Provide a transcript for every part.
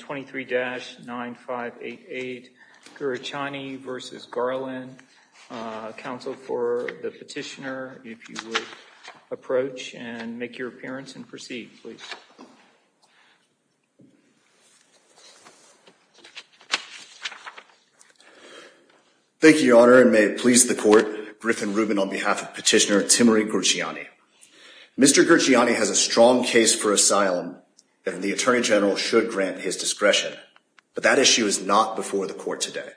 23-9588, Gurchiani v. Garland. Counsel for the petitioner, if you would approach and make your appearance and proceed, please. Thank you, Your Honor, and may it please the Court, Griffin Rubin on behalf of Petitioner Timerey Gurchiani. Mr. Gurchiani has a strong case for asylum, and the Attorney General should grant his discretion, but that issue is not before the Court today.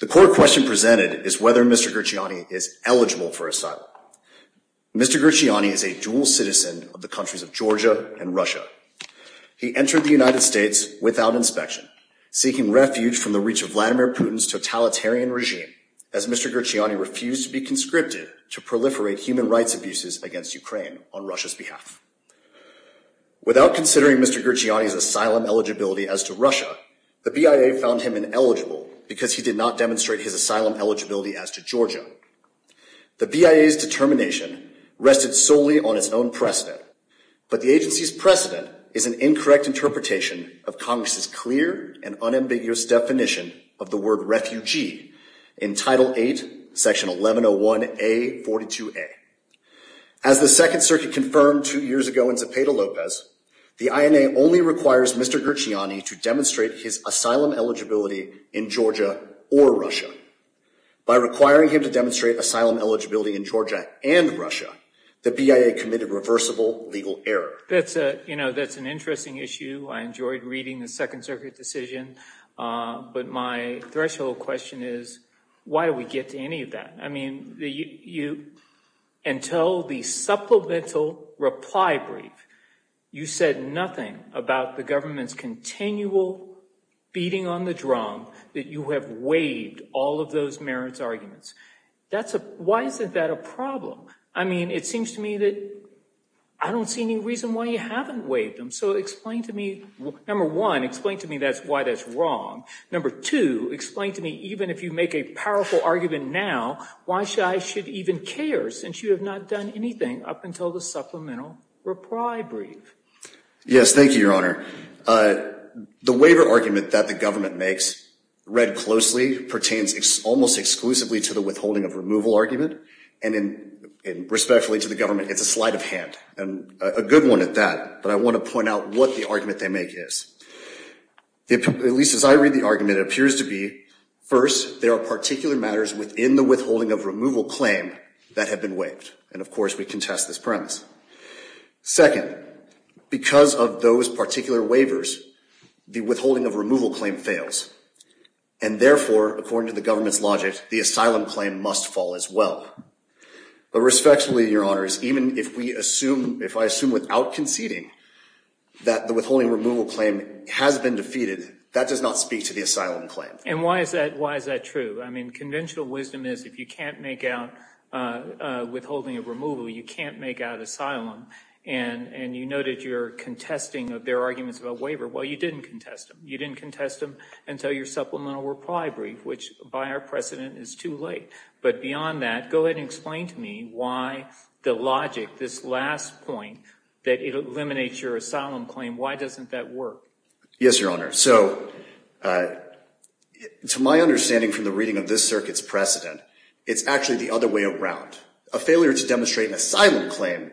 The court question presented is whether Mr. Gurchiani is eligible for asylum. Mr. Gurchiani is a dual citizen of the countries of Georgia and Russia. He entered the United States without inspection, seeking refuge from the reach of Vladimir Putin's totalitarian regime, as Mr. Gurchiani refused to be conscripted to proliferate human rights abuses against Ukraine on Russia's behalf. Without considering Mr. Gurchiani's asylum eligibility as to Russia, the BIA found him ineligible because he did not demonstrate his asylum eligibility as to Georgia. The BIA's determination rested solely on its own precedent, but the agency's precedent is an incorrect interpretation of Congress's clear and unambiguous definition of the word As the Second Circuit confirmed two years ago in Zepeda-Lopez, the INA only requires Mr. Gurchiani to demonstrate his asylum eligibility in Georgia or Russia. By requiring him to demonstrate asylum eligibility in Georgia and Russia, the BIA committed reversible legal error. That's an interesting issue. I enjoyed reading the Second Circuit decision, but my threshold question is, why do we get to any of that? I mean, until the supplemental reply brief, you said nothing about the government's continual beating on the drum, that you have waived all of those merits arguments. Why isn't that a problem? I mean, it seems to me that I don't see any reason why you haven't waived them. So explain to me, number one, explain to me why that's wrong. Number two, explain to me, even if you make a powerful argument now, why should I should even care, since you have not done anything up until the supplemental reply brief? Yes, thank you, Your Honor. The waiver argument that the government makes, read closely, pertains almost exclusively to the withholding of removal argument, and respectfully to the government, it's a sleight of hand. And a good one at that, but I want to point out what the argument they make is. At least as I read the argument, it appears to be, first, there are particular matters within the withholding of removal claim that have been waived, and of course, we contest this premise. Second, because of those particular waivers, the withholding of removal claim fails, and therefore, according to the government's logic, the asylum claim must fall as well. But respectfully, Your Honors, even if we assume, if I assume without conceding, that the withholding of removal claim has been defeated, that does not speak to the asylum claim. And why is that true? I mean, conventional wisdom is, if you can't make out withholding of removal, you can't make out asylum, and you know that you're contesting their arguments about waiver, well, you didn't contest them. You didn't contest them until your supplemental reply brief, which by our precedent is too late. But beyond that, go ahead and explain to me why the logic, this last point, that it eliminates your asylum claim, why doesn't that work? Yes, Your Honor. So to my understanding from the reading of this circuit's precedent, it's actually the other way around. A failure to demonstrate an asylum claim,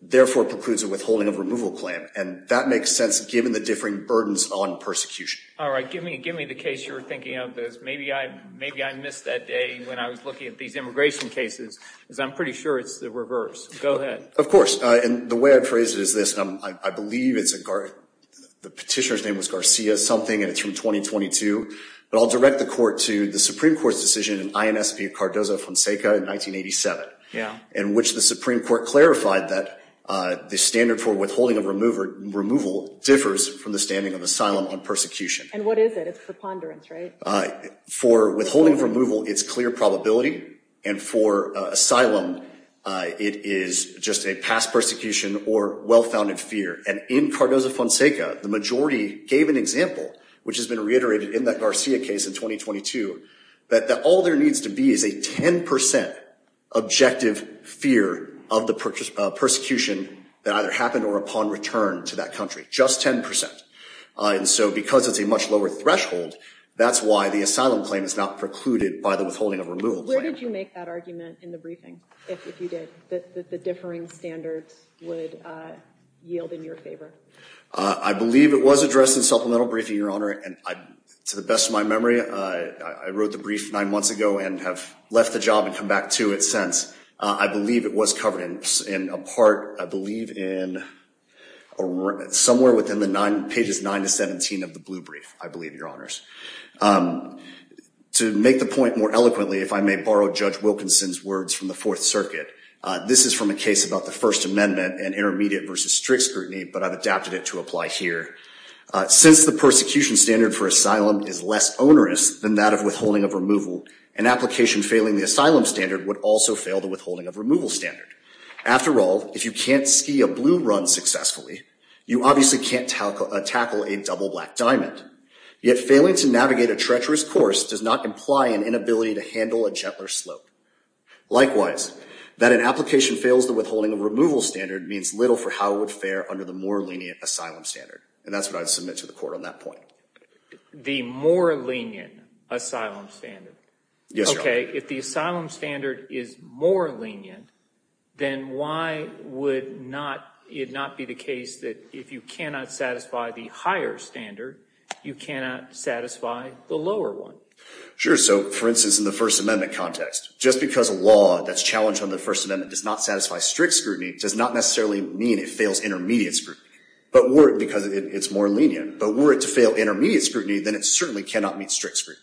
therefore, precludes a withholding of removal claim, and that makes sense given the differing burdens on persecution. All right. Give me the case you were thinking of, because maybe I missed that day when I was looking at these immigration cases, because I'm pretty sure it's the reverse. Go ahead. Of course. Of course. And the way I phrase it is this. I believe the petitioner's name was Garcia something, and it's from 2022, but I'll direct the court to the Supreme Court's decision in INSP Cardozo-Fonseca in 1987, in which the Supreme Court clarified that the standard for withholding of removal differs from the standing of asylum on persecution. And what is it? It's a ponderance, right? For withholding of removal, it's clear probability, and for asylum, it is just a past persecution or well-founded fear. And in Cardozo-Fonseca, the majority gave an example, which has been reiterated in that Garcia case in 2022, that all there needs to be is a 10% objective fear of the persecution that either happened or upon return to that country. Just 10%. And so because it's a much lower threshold, that's why the asylum claim is not precluded by the withholding of removal claim. Where did you make that argument in the briefing, if you did, that the differing standards would yield in your favor? I believe it was addressed in supplemental briefing, Your Honor. And to the best of my memory, I wrote the brief nine months ago and have left the job and come back to it since. I believe it was covered in a part, I believe, in somewhere within the pages nine to 17 of the blue brief, I believe, Your Honors. To make the point more eloquently, if I may borrow Judge Wilkinson's words from the Fourth Circuit, this is from a case about the First Amendment and intermediate versus strict scrutiny, but I've adapted it to apply here. Since the persecution standard for asylum is less onerous than that of withholding of removal, an application failing the asylum standard would also fail the withholding of removal standard. After all, if you can't ski a blue run successfully, you obviously can't tackle a double black diamond. Yet, failing to navigate a treacherous course does not imply an inability to handle a gentler slope. Likewise, that an application fails the withholding of removal standard means little for how it would fare under the more lenient asylum standard. And that's what I'd submit to the court on that point. The more lenient asylum standard. Yes, Your Honor. Okay, if the asylum standard is more lenient, then why would not, it not be the case that if you cannot satisfy the higher standard, you cannot satisfy the lower one? Sure, so for instance, in the First Amendment context, just because a law that's challenged under the First Amendment does not satisfy strict scrutiny does not necessarily mean it fails intermediate scrutiny. But were it, because it's more lenient, but were it to fail intermediate scrutiny, then it certainly cannot meet strict scrutiny.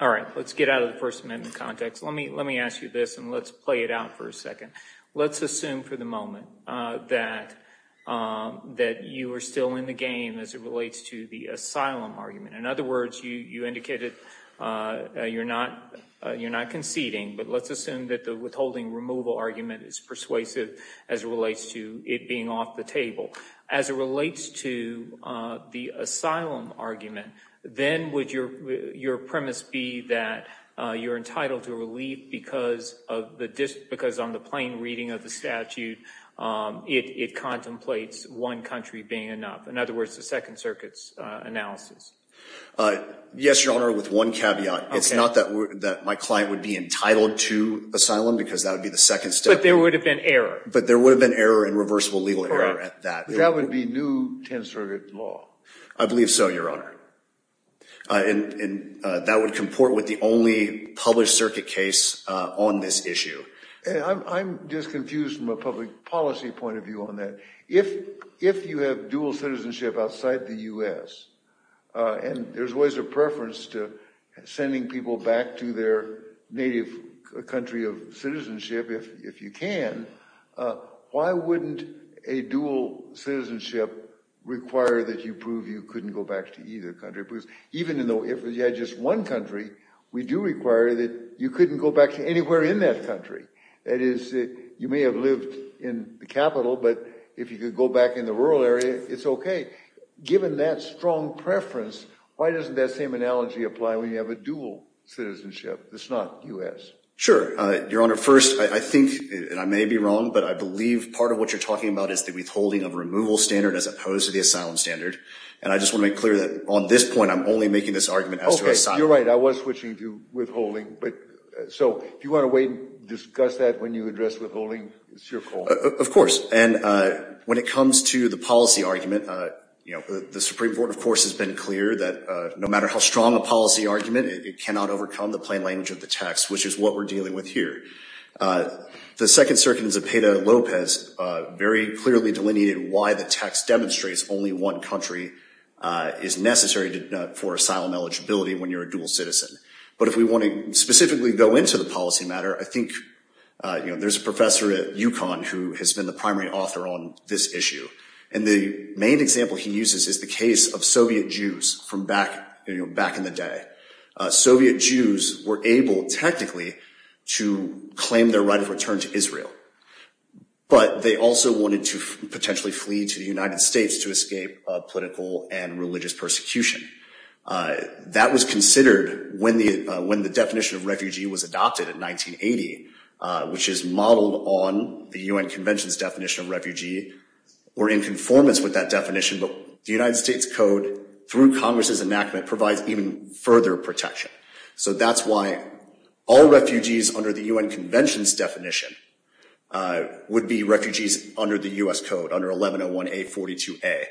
All right, let's get out of the First Amendment context. Let me ask you this and let's play it out for a second. Let's assume for the moment that you are still in the game as it relates to the asylum argument. In other words, you indicated you're not conceding, but let's assume that the withholding removal argument is persuasive as it relates to it being off the table. As it relates to the asylum argument, then would your premise be that you're entitled to relief because on the plain reading of the statute, it contemplates one country being enough? In other words, the Second Circuit's analysis. Yes, Your Honor, with one caveat. It's not that my client would be entitled to asylum because that would be the second step. But there would have been error. But there would have been error and reversible legal error at that. That would be new 10th Circuit law. I believe so, Your Honor. And that would comport with the only published circuit case on this issue. I'm just confused from a public policy point of view on that. If you have dual citizenship outside the U.S., and there's always a preference to sending people back to their native country of citizenship if you can, why wouldn't a dual citizenship require that you prove you couldn't go back to either country? Even though if you had just one country, we do require that you couldn't go back to anywhere in that country. That is, you may have lived in the capital, but if you could go back in the rural area, it's OK. Given that strong preference, why doesn't that same analogy apply when you have a dual citizenship? It's not U.S. Sure. Your Honor, first, I think, and I may be wrong, but I believe part of what you're talking about is the withholding of a removal standard as opposed to the asylum standard. And I just want to make clear that on this point, I'm only making this argument as to You're right. I was switching to withholding. But so if you want to wait and discuss that when you address withholding, it's your call. Of course. And when it comes to the policy argument, the Supreme Court, of course, has been clear that no matter how strong a policy argument, it cannot overcome the plain language of the text, which is what we're dealing with here. The Second Circuit in Zepeda-Lopez very clearly delineated why the text demonstrates only one country is necessary for asylum eligibility when you're a dual citizen. But if we want to specifically go into the policy matter, I think there's a professor at UConn who has been the primary author on this issue. And the main example he uses is the case of Soviet Jews from back in the day. Soviet Jews were able, technically, to claim their right of return to Israel. But they also wanted to potentially flee to the United States to escape political and religious persecution. That was considered when the definition of refugee was adopted in 1980, which is modeled on the UN Convention's definition of refugee. We're in conformance with that definition, but the United States Code, through Congress's enactment, provides even further protection. So that's why all refugees under the UN Convention's definition would be refugees under the U.S. Code, under 1101A.42a.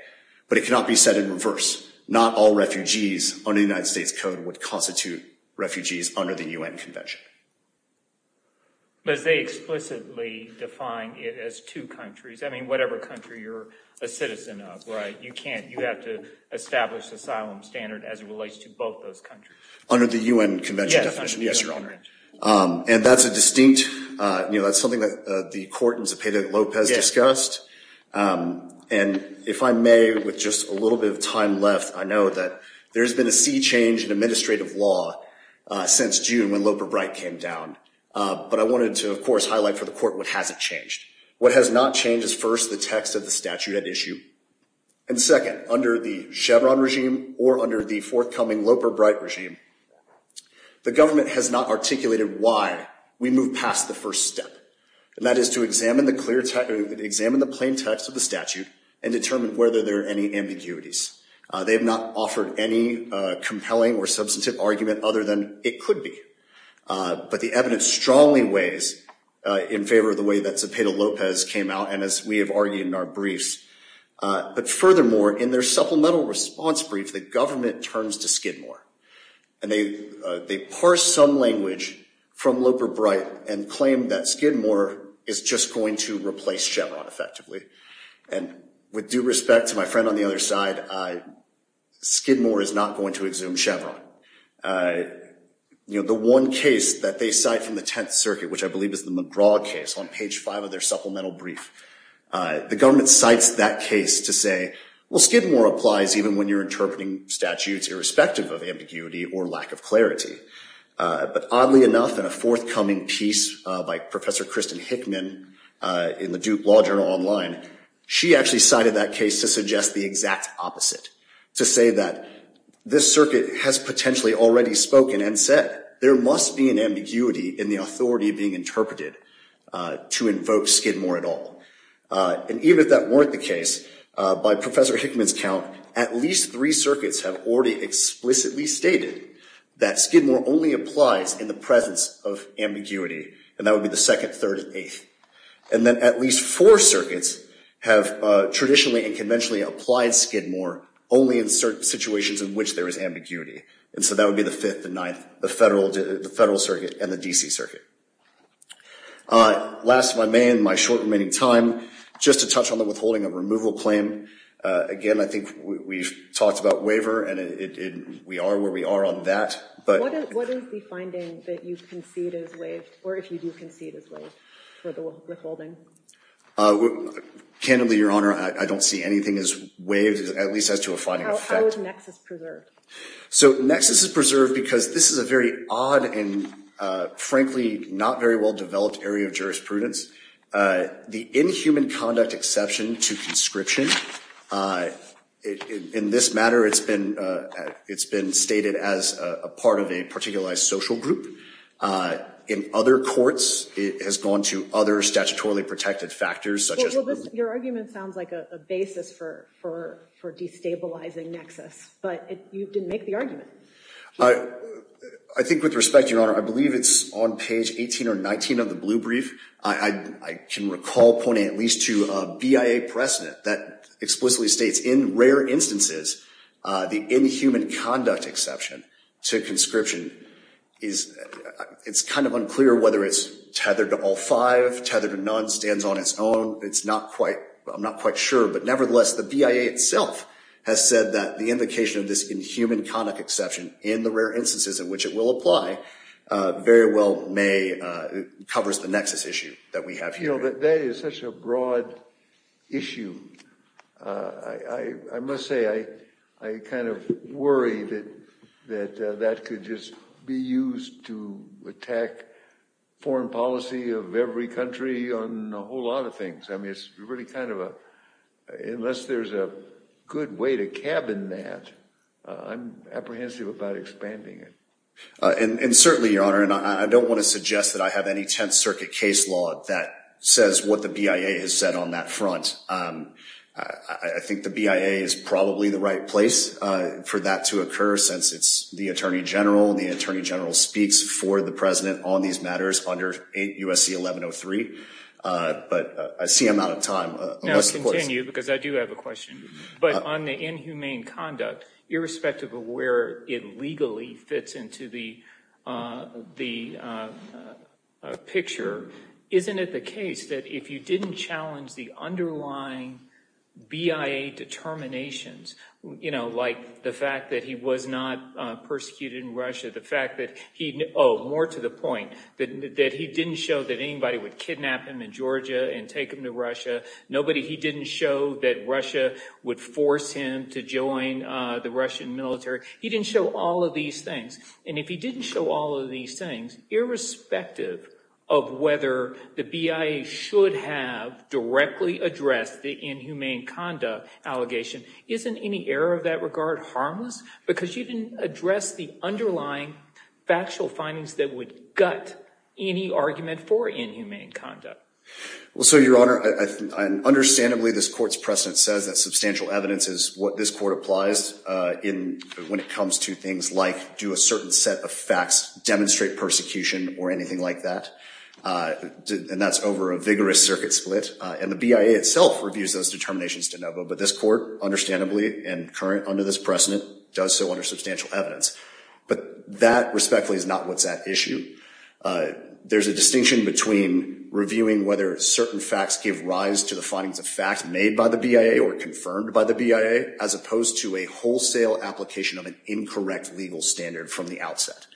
But it cannot be said in reverse. Not all refugees under the United States Code would constitute refugees under the UN Convention. But as they explicitly define it as two countries, I mean, whatever country you're a citizen of, right? You can't, you have to establish asylum standard as it relates to both those countries. Under the UN Convention definition, yes, Your Honor. And that's a distinct, you know, that's something that the court in Zepeda-Lopez discussed. And if I may, with just a little bit of time left, I know that there's been a sea change in administrative law since June when Loper-Bright came down. But I wanted to, of course, highlight for the court what hasn't changed. What has not changed is first, the text of the statute at issue. And second, under the Chevron regime or under the forthcoming Loper-Bright regime, the government has not articulated why we move past the first step. And that is to examine the plain text of the statute and determine whether there are any ambiguities. They have not offered any compelling or substantive argument other than it could be. But the evidence strongly weighs in favor of the way that Zepeda-Lopez came out and as we have argued in our briefs. But furthermore, in their supplemental response brief, the government turns to Skidmore. And they parse some language from Loper-Bright and claim that Skidmore is just going to replace Chevron effectively. And with due respect to my friend on the other side, Skidmore is not going to exhume Chevron. The one case that they cite from the Tenth Circuit, which I believe is the McGraw case on page 5 of their supplemental brief, the government cites that case to say, well, Skidmore applies even when you're interpreting statutes irrespective of ambiguity or lack of clarity. But oddly enough, in a forthcoming piece by Professor Kristen Hickman in the Duke Law Journal Online, she actually cited that case to suggest the exact opposite. To say that this circuit has potentially already spoken and said, there must be an ambiguity in the authority being interpreted to invoke Skidmore at all. And even if that weren't the case, by Professor Hickman's count, at least three circuits have already explicitly stated that Skidmore only applies in the presence of ambiguity. And that would be the Second, Third, and Eighth. And then at least four circuits have traditionally and conventionally applied Skidmore only in certain situations in which there is ambiguity. And so that would be the Fifth, the Ninth, the Federal Circuit, and the D.C. Circuit. Last, if I may, in my short remaining time, just to touch on the withholding of removal claim. Again, I think we've talked about waiver, and we are where we are on that. What is the finding that you concede is waived, or if you do concede is waived for the withholding? Candidly, Your Honor, I don't see anything as waived, at least as to a finding of effect. How is Nexus preserved? So Nexus is preserved because this is a very odd and, frankly, not very well developed area of jurisprudence. The inhuman conduct exception to conscription, in this matter, it's been stated as a part of a particularized social group. In other courts, it has gone to other statutorily protected factors, such as— Well, your argument sounds like a basis for destabilizing Nexus. But you didn't make the argument. I think with respect, Your Honor, I believe it's on page 18 or 19 of the blue brief. I can recall pointing at least to a BIA precedent that explicitly states in rare instances the inhuman conduct exception to conscription. It's kind of unclear whether it's tethered to all five, tethered to none, stands on its own. It's not quite—I'm not quite sure. But nevertheless, the BIA itself has said that the indication of this inhuman conduct exception in the rare instances in which it will apply very well may—covers the Nexus issue that we have here. You know, that is such a broad issue. I must say, I kind of worry that that could just be used to attack foreign policy of every country on a whole lot of things. I mean, it's really kind of a—unless there's a good way to cabin that, I'm apprehensive about expanding it. And certainly, Your Honor, and I don't want to suggest that I have any Tenth Circuit case law that says what the BIA has said on that front. I think the BIA is probably the right place for that to occur, since it's the attorney general. The attorney general speaks for the president on these matters under USC 1103. But I see I'm out of time. Now, continue, because I do have a question. But on the inhumane conduct, irrespective of where it legally fits into the picture, isn't it the case that if you didn't challenge the underlying BIA determinations, you know, like the fact that he was not persecuted in Russia, the fact that he—oh, more to the point, that he didn't show that anybody would kidnap him in Georgia and take him to Russia, nobody—he didn't show that Russia would force him to join the Russian military. He didn't show all of these things. And if he didn't show all of these things, irrespective of whether the BIA should have directly addressed the inhumane conduct allegation, isn't any error of that regard harmless? Because you didn't address the underlying factual findings that would gut any argument for inhumane conduct. Well, so, Your Honor, understandably, this court's precedent says that substantial evidence is what this court applies in— when it comes to things like do a certain set of facts demonstrate persecution or anything like that. And that's over a vigorous circuit split. And the BIA itself reviews those determinations de novo. But this court, understandably, and current under this precedent, does so under substantial evidence. But that, respectfully, is not what's at issue. There's a distinction between reviewing whether certain facts give rise to the findings of fact made by the BIA or confirmed by the BIA, as opposed to a wholesale application of an incorrect legal standard from the outset.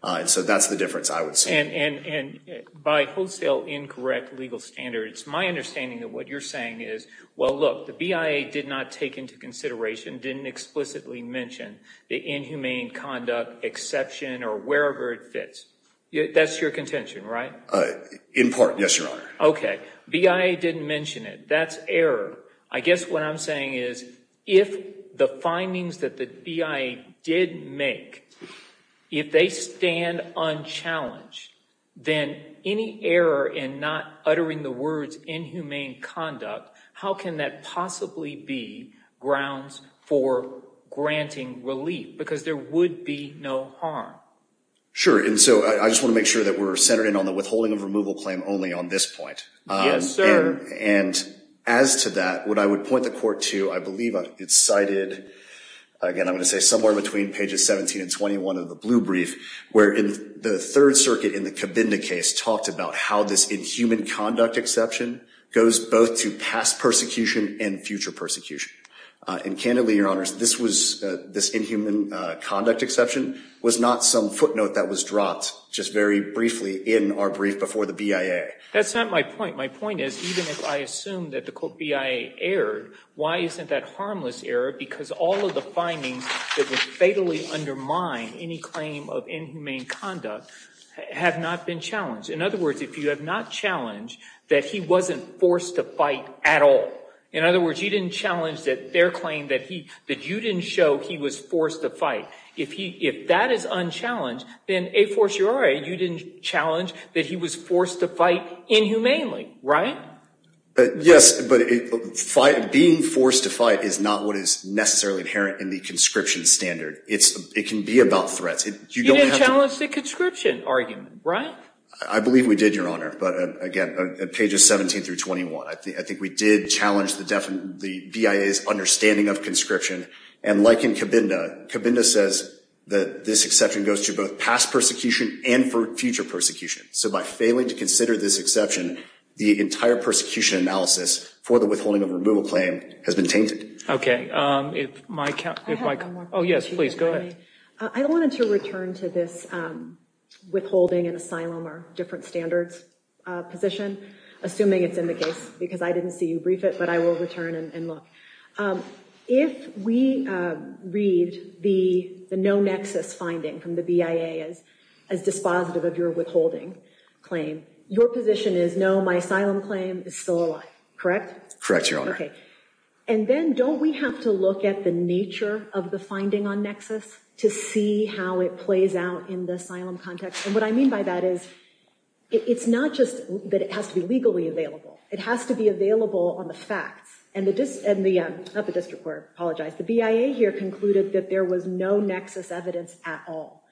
And so that's the difference, I would say. And by wholesale incorrect legal standard, it's my understanding that what you're saying is, Well, look, the BIA did not take into consideration, didn't explicitly mention the inhumane conduct exception or wherever it fits. That's your contention, right? In part, yes, Your Honor. Okay. BIA didn't mention it. That's error. I guess what I'm saying is if the findings that the BIA did make, if they stand unchallenged, then any error in not uttering the words inhumane conduct, how can that possibly be grounds for granting relief? Because there would be no harm. Sure. And so I just want to make sure that we're centered in on the withholding of removal claim only on this point. Yes, sir. And as to that, what I would point the court to, I believe it's cited, again, I'm going to say somewhere between pages 17 and 21 of the blue brief, where the Third Circuit in the Cabinda case talked about how this inhuman conduct exception goes both to past persecution and future persecution. And candidly, Your Honors, this inhuman conduct exception was not some footnote that was dropped just very briefly in our brief before the BIA. That's not my point. My point is even if I assume that the BIA erred, why isn't that harmless error? Because all of the findings that would fatally undermine any claim of inhumane conduct have not been challenged. In other words, if you have not challenged that he wasn't forced to fight at all, in other words, you didn't challenge their claim that you didn't show he was forced to fight, if that is unchallenged, then a fortiori, you didn't challenge that he was forced to fight inhumanely, right? Yes, but being forced to fight is not what is necessarily inherent in the conscription standard. It can be about threats. You didn't challenge the conscription argument, right? I believe we did, Your Honor, but again, pages 17 through 21. I think we did challenge the BIA's understanding of conscription. And like in Cabinda, Cabinda says that this exception goes to both past persecution and for future persecution. So by failing to consider this exception, the entire persecution analysis for the withholding of a removal claim has been tainted. Okay. If my count— I have one more question. Oh, yes, please, go ahead. I wanted to return to this withholding and asylum are different standards position, assuming it's in the case because I didn't see you brief it, but I will return and look. If we read the no nexus finding from the BIA as dispositive of your withholding claim, your position is no, my asylum claim is still alive, correct? Correct, Your Honor. Okay. And then don't we have to look at the nature of the finding on nexus to see how it plays out in the asylum context? And what I mean by that is it's not just that it has to be legally available. It has to be available on the facts. And the—not the district court, I apologize. The BIA here concluded that there was no nexus evidence at all.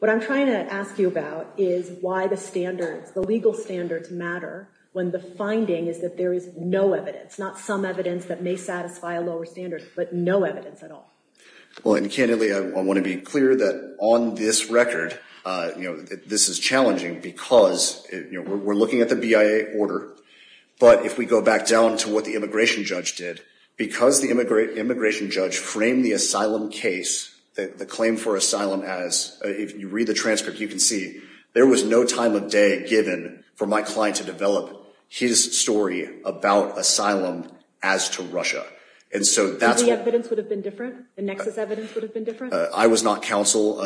What I'm trying to ask you about is why the standards, the legal standards matter when the finding is that there is no evidence, not some evidence that may satisfy a lower standard, but no evidence at all. Well, and candidly, I want to be clear that on this record, you know, this is challenging because, you know, we're looking at the BIA order. But if we go back down to what the immigration judge did, because the immigration judge framed the asylum case, the claim for asylum as—if you read the transcript, you can see there was no time of day given for my client to develop his story about asylum as to Russia. And so that's what— The evidence would have been different? The nexus evidence would have been different? I was not counsel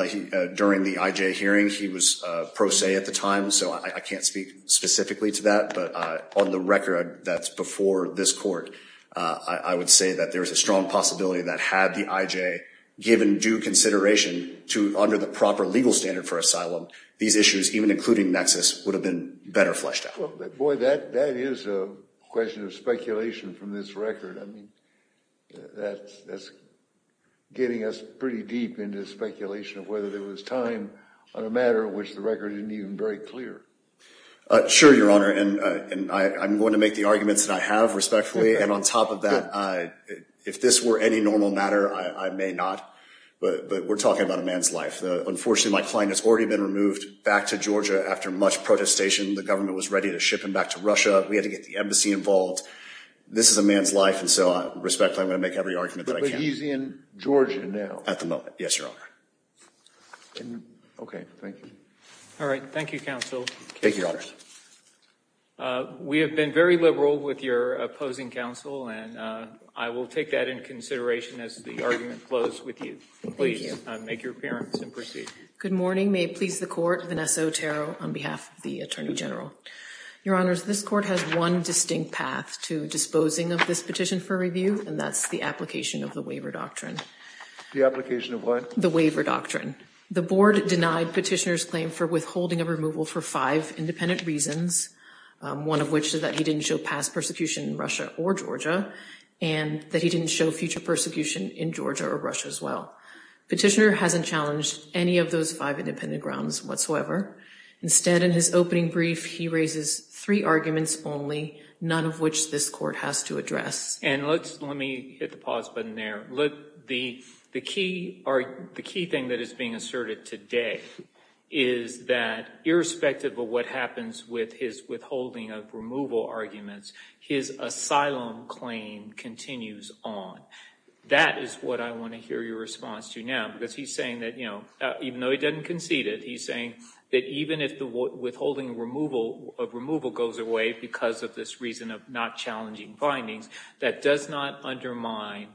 during the IJ hearing. He was pro se at the time, so I can't speak specifically to that. But on the record that's before this court, I would say that there is a strong possibility that had the IJ given due consideration to—under the proper legal standard for asylum, these issues, even including nexus, would have been better fleshed out. Boy, that is a question of speculation from this record. I mean, that's getting us pretty deep into speculation of whether there was time on a matter which the record isn't even very clear. Sure, Your Honor. And I'm going to make the arguments that I have respectfully. And on top of that, if this were any normal matter, I may not. But we're talking about a man's life. Unfortunately, my client has already been removed back to Georgia after much protestation. The government was ready to ship him back to Russia. We had to get the embassy involved. This is a man's life, and so respectfully, I'm going to make every argument that I can. But he's in Georgia now? At the moment, yes, Your Honor. Okay, thank you. All right. Thank you, counsel. Thank you, Your Honor. We have been very liberal with your opposing counsel, and I will take that in consideration as the argument flows with you. Thank you. Please make your appearance and proceed. Good morning. May it please the Court. Vanessa Otero on behalf of the Attorney General. Your Honors, this Court has one distinct path to disposing of this petition for review, and that's the application of the Waiver Doctrine. The application of what? The Waiver Doctrine. The Board denied Petitioner's claim for withholding a removal for five independent reasons, one of which is that he didn't show past persecution in Russia or Georgia, and that he didn't show future persecution in Georgia or Russia as well. Petitioner hasn't challenged any of those five independent grounds whatsoever. Instead, in his opening brief, he raises three arguments only, none of which this Court has to address. And let me hit the pause button there. The key thing that is being asserted today is that irrespective of what happens with his withholding of removal arguments, his asylum claim continues on. That is what I want to hear your response to now, because he's saying that, you know, even though he didn't concede it, he's saying that even if the withholding of removal goes away because of this reason of not challenging findings, that does not undermine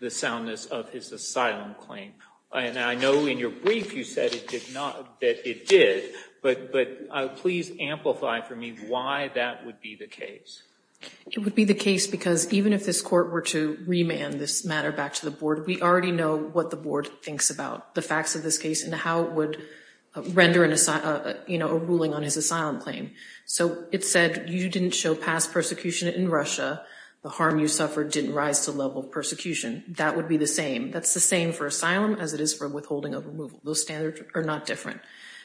the soundness of his asylum claim. And I know in your brief you said that it did, but please amplify for me why that would be the case. It would be the case because even if this Court were to remand this matter back to the Board, we already know what the Board thinks about the facts of this case and how it would render a ruling on his asylum claim. So it said you didn't show past persecution in Russia. The harm you suffered didn't rise to the level of persecution. That would be the same. That's the same for asylum as it is for withholding of removal. Those standards are not different.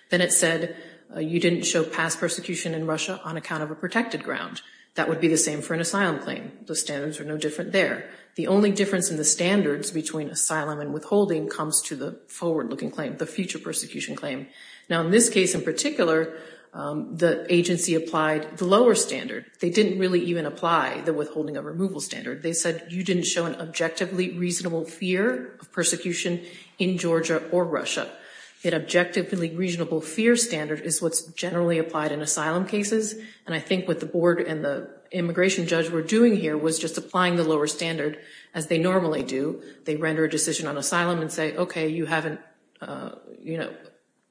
Then it said you didn't show past persecution in Russia on account of a protected ground. That would be the same for an asylum claim. Those standards are no different there. The only difference in the standards between asylum and withholding comes to the forward-looking claim, the future persecution claim. Now in this case in particular, the agency applied the lower standard. They didn't really even apply the withholding of removal standard. They said you didn't show an objectively reasonable fear of persecution in Georgia or Russia. An objectively reasonable fear standard is what's generally applied in asylum cases, and I think what the Board and the immigration judge were doing here was just applying the lower standard as they normally do. They render a decision on asylum and say, okay, you haven't, you know,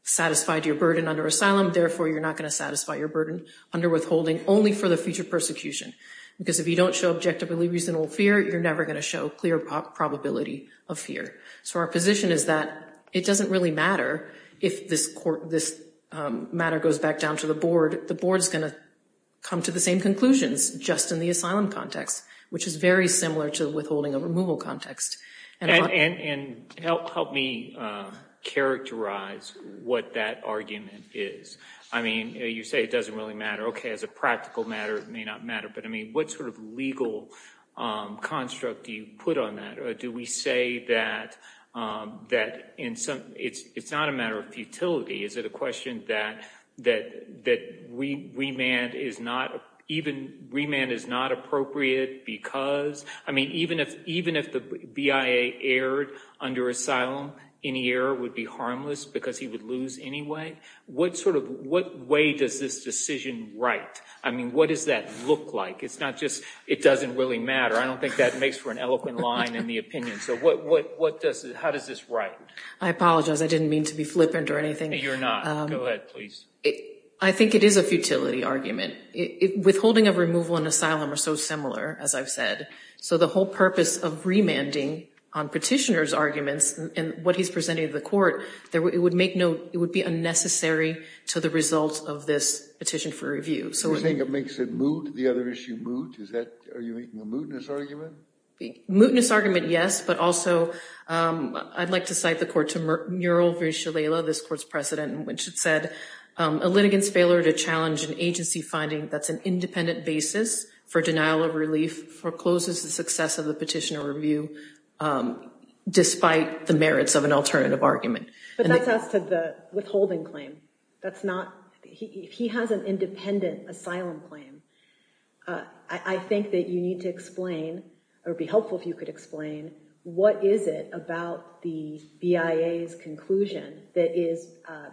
satisfied your burden under asylum. Therefore, you're not going to satisfy your burden under withholding only for the future persecution because if you don't show objectively reasonable fear, you're never going to show clear probability of fear. So our position is that it doesn't really matter if this matter goes back down to the Board. The Board is going to come to the same conclusions just in the asylum context, which is very similar to withholding a removal context. And help me characterize what that argument is. I mean, you say it doesn't really matter. Okay, as a practical matter, it may not matter, but I mean, what sort of legal construct do you put on that? Do we say that it's not a matter of futility? Is it a question that remand is not appropriate because? I mean, even if the BIA erred under asylum, any error would be harmless because he would lose anyway. What sort of way does this decision write? I mean, what does that look like? It's not just it doesn't really matter. I don't think that makes for an eloquent line in the opinion. So how does this write? I apologize. I didn't mean to be flippant or anything. You're not. Go ahead, please. I think it is a futility argument. Withholding of removal and asylum are so similar, as I've said. So the whole purpose of remanding on petitioner's arguments and what he's presenting to the court, it would be unnecessary to the results of this petition for review. You think it makes it moot, the other issue moot? Are you making a mootness argument? A mootness argument, yes, but also I'd like to cite the court to Mural v. Shalala, this court's president, in which it said, a litigant's failure to challenge an agency finding that's an independent basis for denial of relief forecloses the success of the petitioner review, despite the merits of an alternative argument. But that's as to the withholding claim. He has an independent asylum claim. I think that you need to explain, or it would be helpful if you could explain, what is it about the BIA's conclusion that is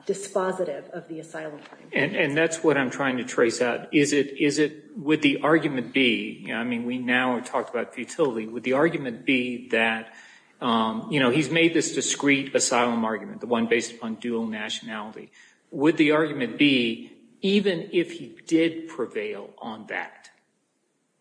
dispositive of the asylum claim? And that's what I'm trying to trace out. Is it, would the argument be, I mean, we now have talked about futility. Would the argument be that, you know, he's made this discreet asylum argument, the one based upon dual nationality. Would the argument be, even if he did prevail on that,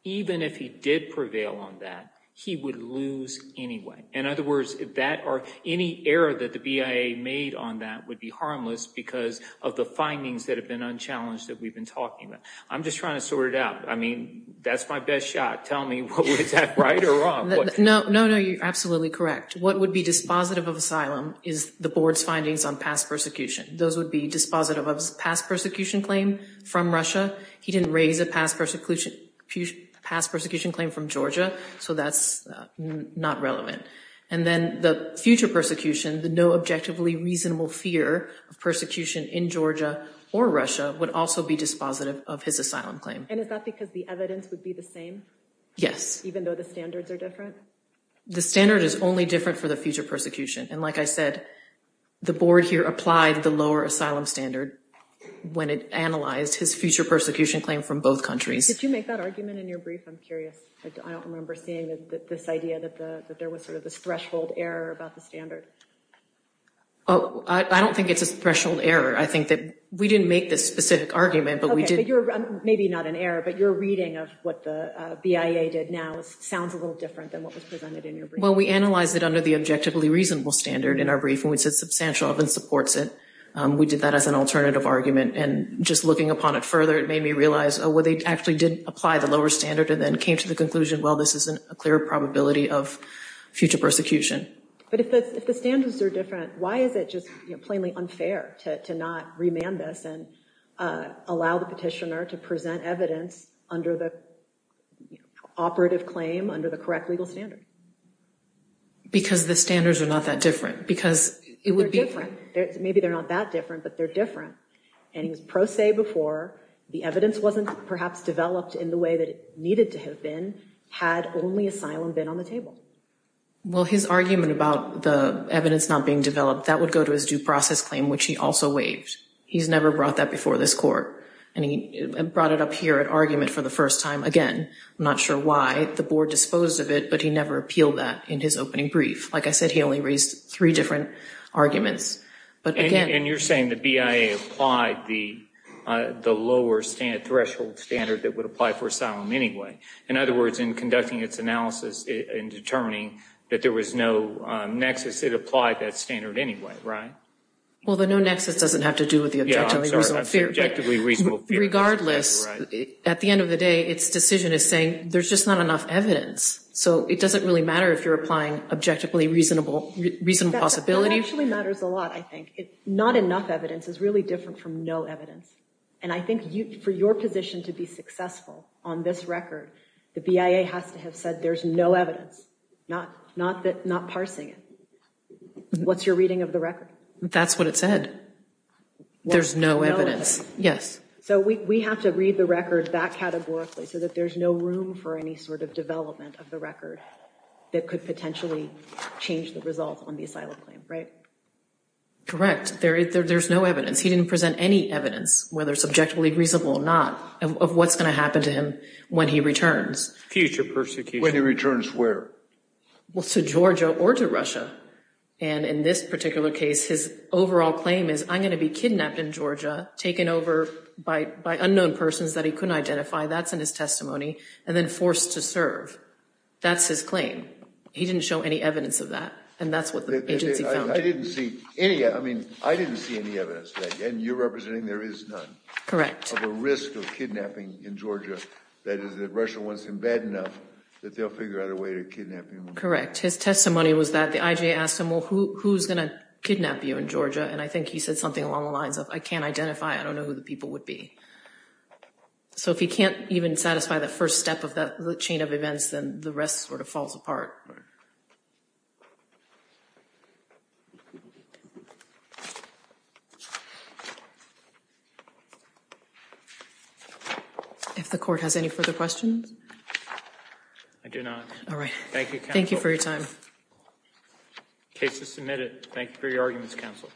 even if he did prevail on that, he would lose anyway? In other words, that or any error that the BIA made on that would be harmless because of the findings that have been unchallenged that we've been talking about. I'm just trying to sort it out. I mean, that's my best shot. Tell me, is that right or wrong? No, no, no, you're absolutely correct. What would be dispositive of asylum is the board's findings on past persecution. Those would be dispositive of his past persecution claim from Russia. He didn't raise a past persecution claim from Georgia, so that's not relevant. And then the future persecution, the no objectively reasonable fear of persecution in Georgia or Russia would also be dispositive of his asylum claim. And is that because the evidence would be the same? Yes. Even though the standards are different? The standard is only different for the future persecution. And like I said, the board here applied the lower asylum standard when it analyzed his future persecution claim from both countries. Did you make that argument in your brief? I'm curious. I don't remember seeing this idea that there was sort of this threshold error about the standard. Oh, I don't think it's a threshold error. I think that we didn't make this specific argument, but we did. Okay, but you're maybe not an error, but your reading of what the BIA did now sounds a little different than what was presented in your brief. Well, we analyzed it under the objectively reasonable standard in our brief, and we said substantial evidence supports it. We did that as an alternative argument, and just looking upon it further, it made me realize, oh, well, they actually did apply the lower standard and then came to the conclusion, well, this is a clear probability of future persecution. But if the standards are different, why is it just plainly unfair to not remand this and allow the petitioner to present evidence under the operative claim, under the correct legal standard? Because the standards are not that different. They're different. Maybe they're not that different, but they're different. And he was pro se before. The evidence wasn't perhaps developed in the way that it needed to have been had only asylum been on the table. Well, his argument about the evidence not being developed, that would go to his due process claim, which he also waived. He's never brought that before this court. And he brought it up here at argument for the first time. Again, I'm not sure why the board disposed of it, but he never appealed that in his opening brief. Like I said, he only raised three different arguments. And you're saying the BIA applied the lower threshold standard that would apply for asylum anyway. In other words, in conducting its analysis and determining that there was no nexus, it applied that standard anyway, right? Well, the no nexus doesn't have to do with the objectively reasonable fear. Objectively reasonable fear. Regardless, at the end of the day, its decision is saying there's just not enough evidence. So it doesn't really matter if you're applying objectively reasonable possibility. It actually matters a lot, I think. Not enough evidence is really different from no evidence. And I think for your position to be successful on this record, the BIA has to have said there's no evidence, not parsing it. What's your reading of the record? That's what it said. There's no evidence. Yes. So we have to read the record that categorically so that there's no room for any sort of development of the record that could potentially change the result on the asylum claim, right? Correct. There's no evidence. He didn't present any evidence, whether subjectively reasonable or not, of what's going to happen to him when he returns. Future persecution. When he returns where? Well, to Georgia or to Russia. And in this particular case, his overall claim is, I'm going to be kidnapped in Georgia, taken over by unknown persons that he couldn't identify. That's in his testimony. And then forced to serve. That's his claim. He didn't show any evidence of that. And that's what the agency found. I didn't see any. I mean, I didn't see any evidence of that. And you're representing there is none. Of a risk of kidnapping in Georgia, that is, that Russia wants him bad enough that they'll figure out a way to kidnap him. Correct. His testimony was that the IJ asked him, well, who's going to kidnap you in Georgia? And I think he said something along the lines of, I can't identify, I don't know who the people would be. So if he can't even satisfy the first step of that chain of events, then the rest sort of falls apart. Right. Thank you. If the court has any further questions. I do not. Thank you for your time. Case is submitted. Thank you for your arguments, counsel.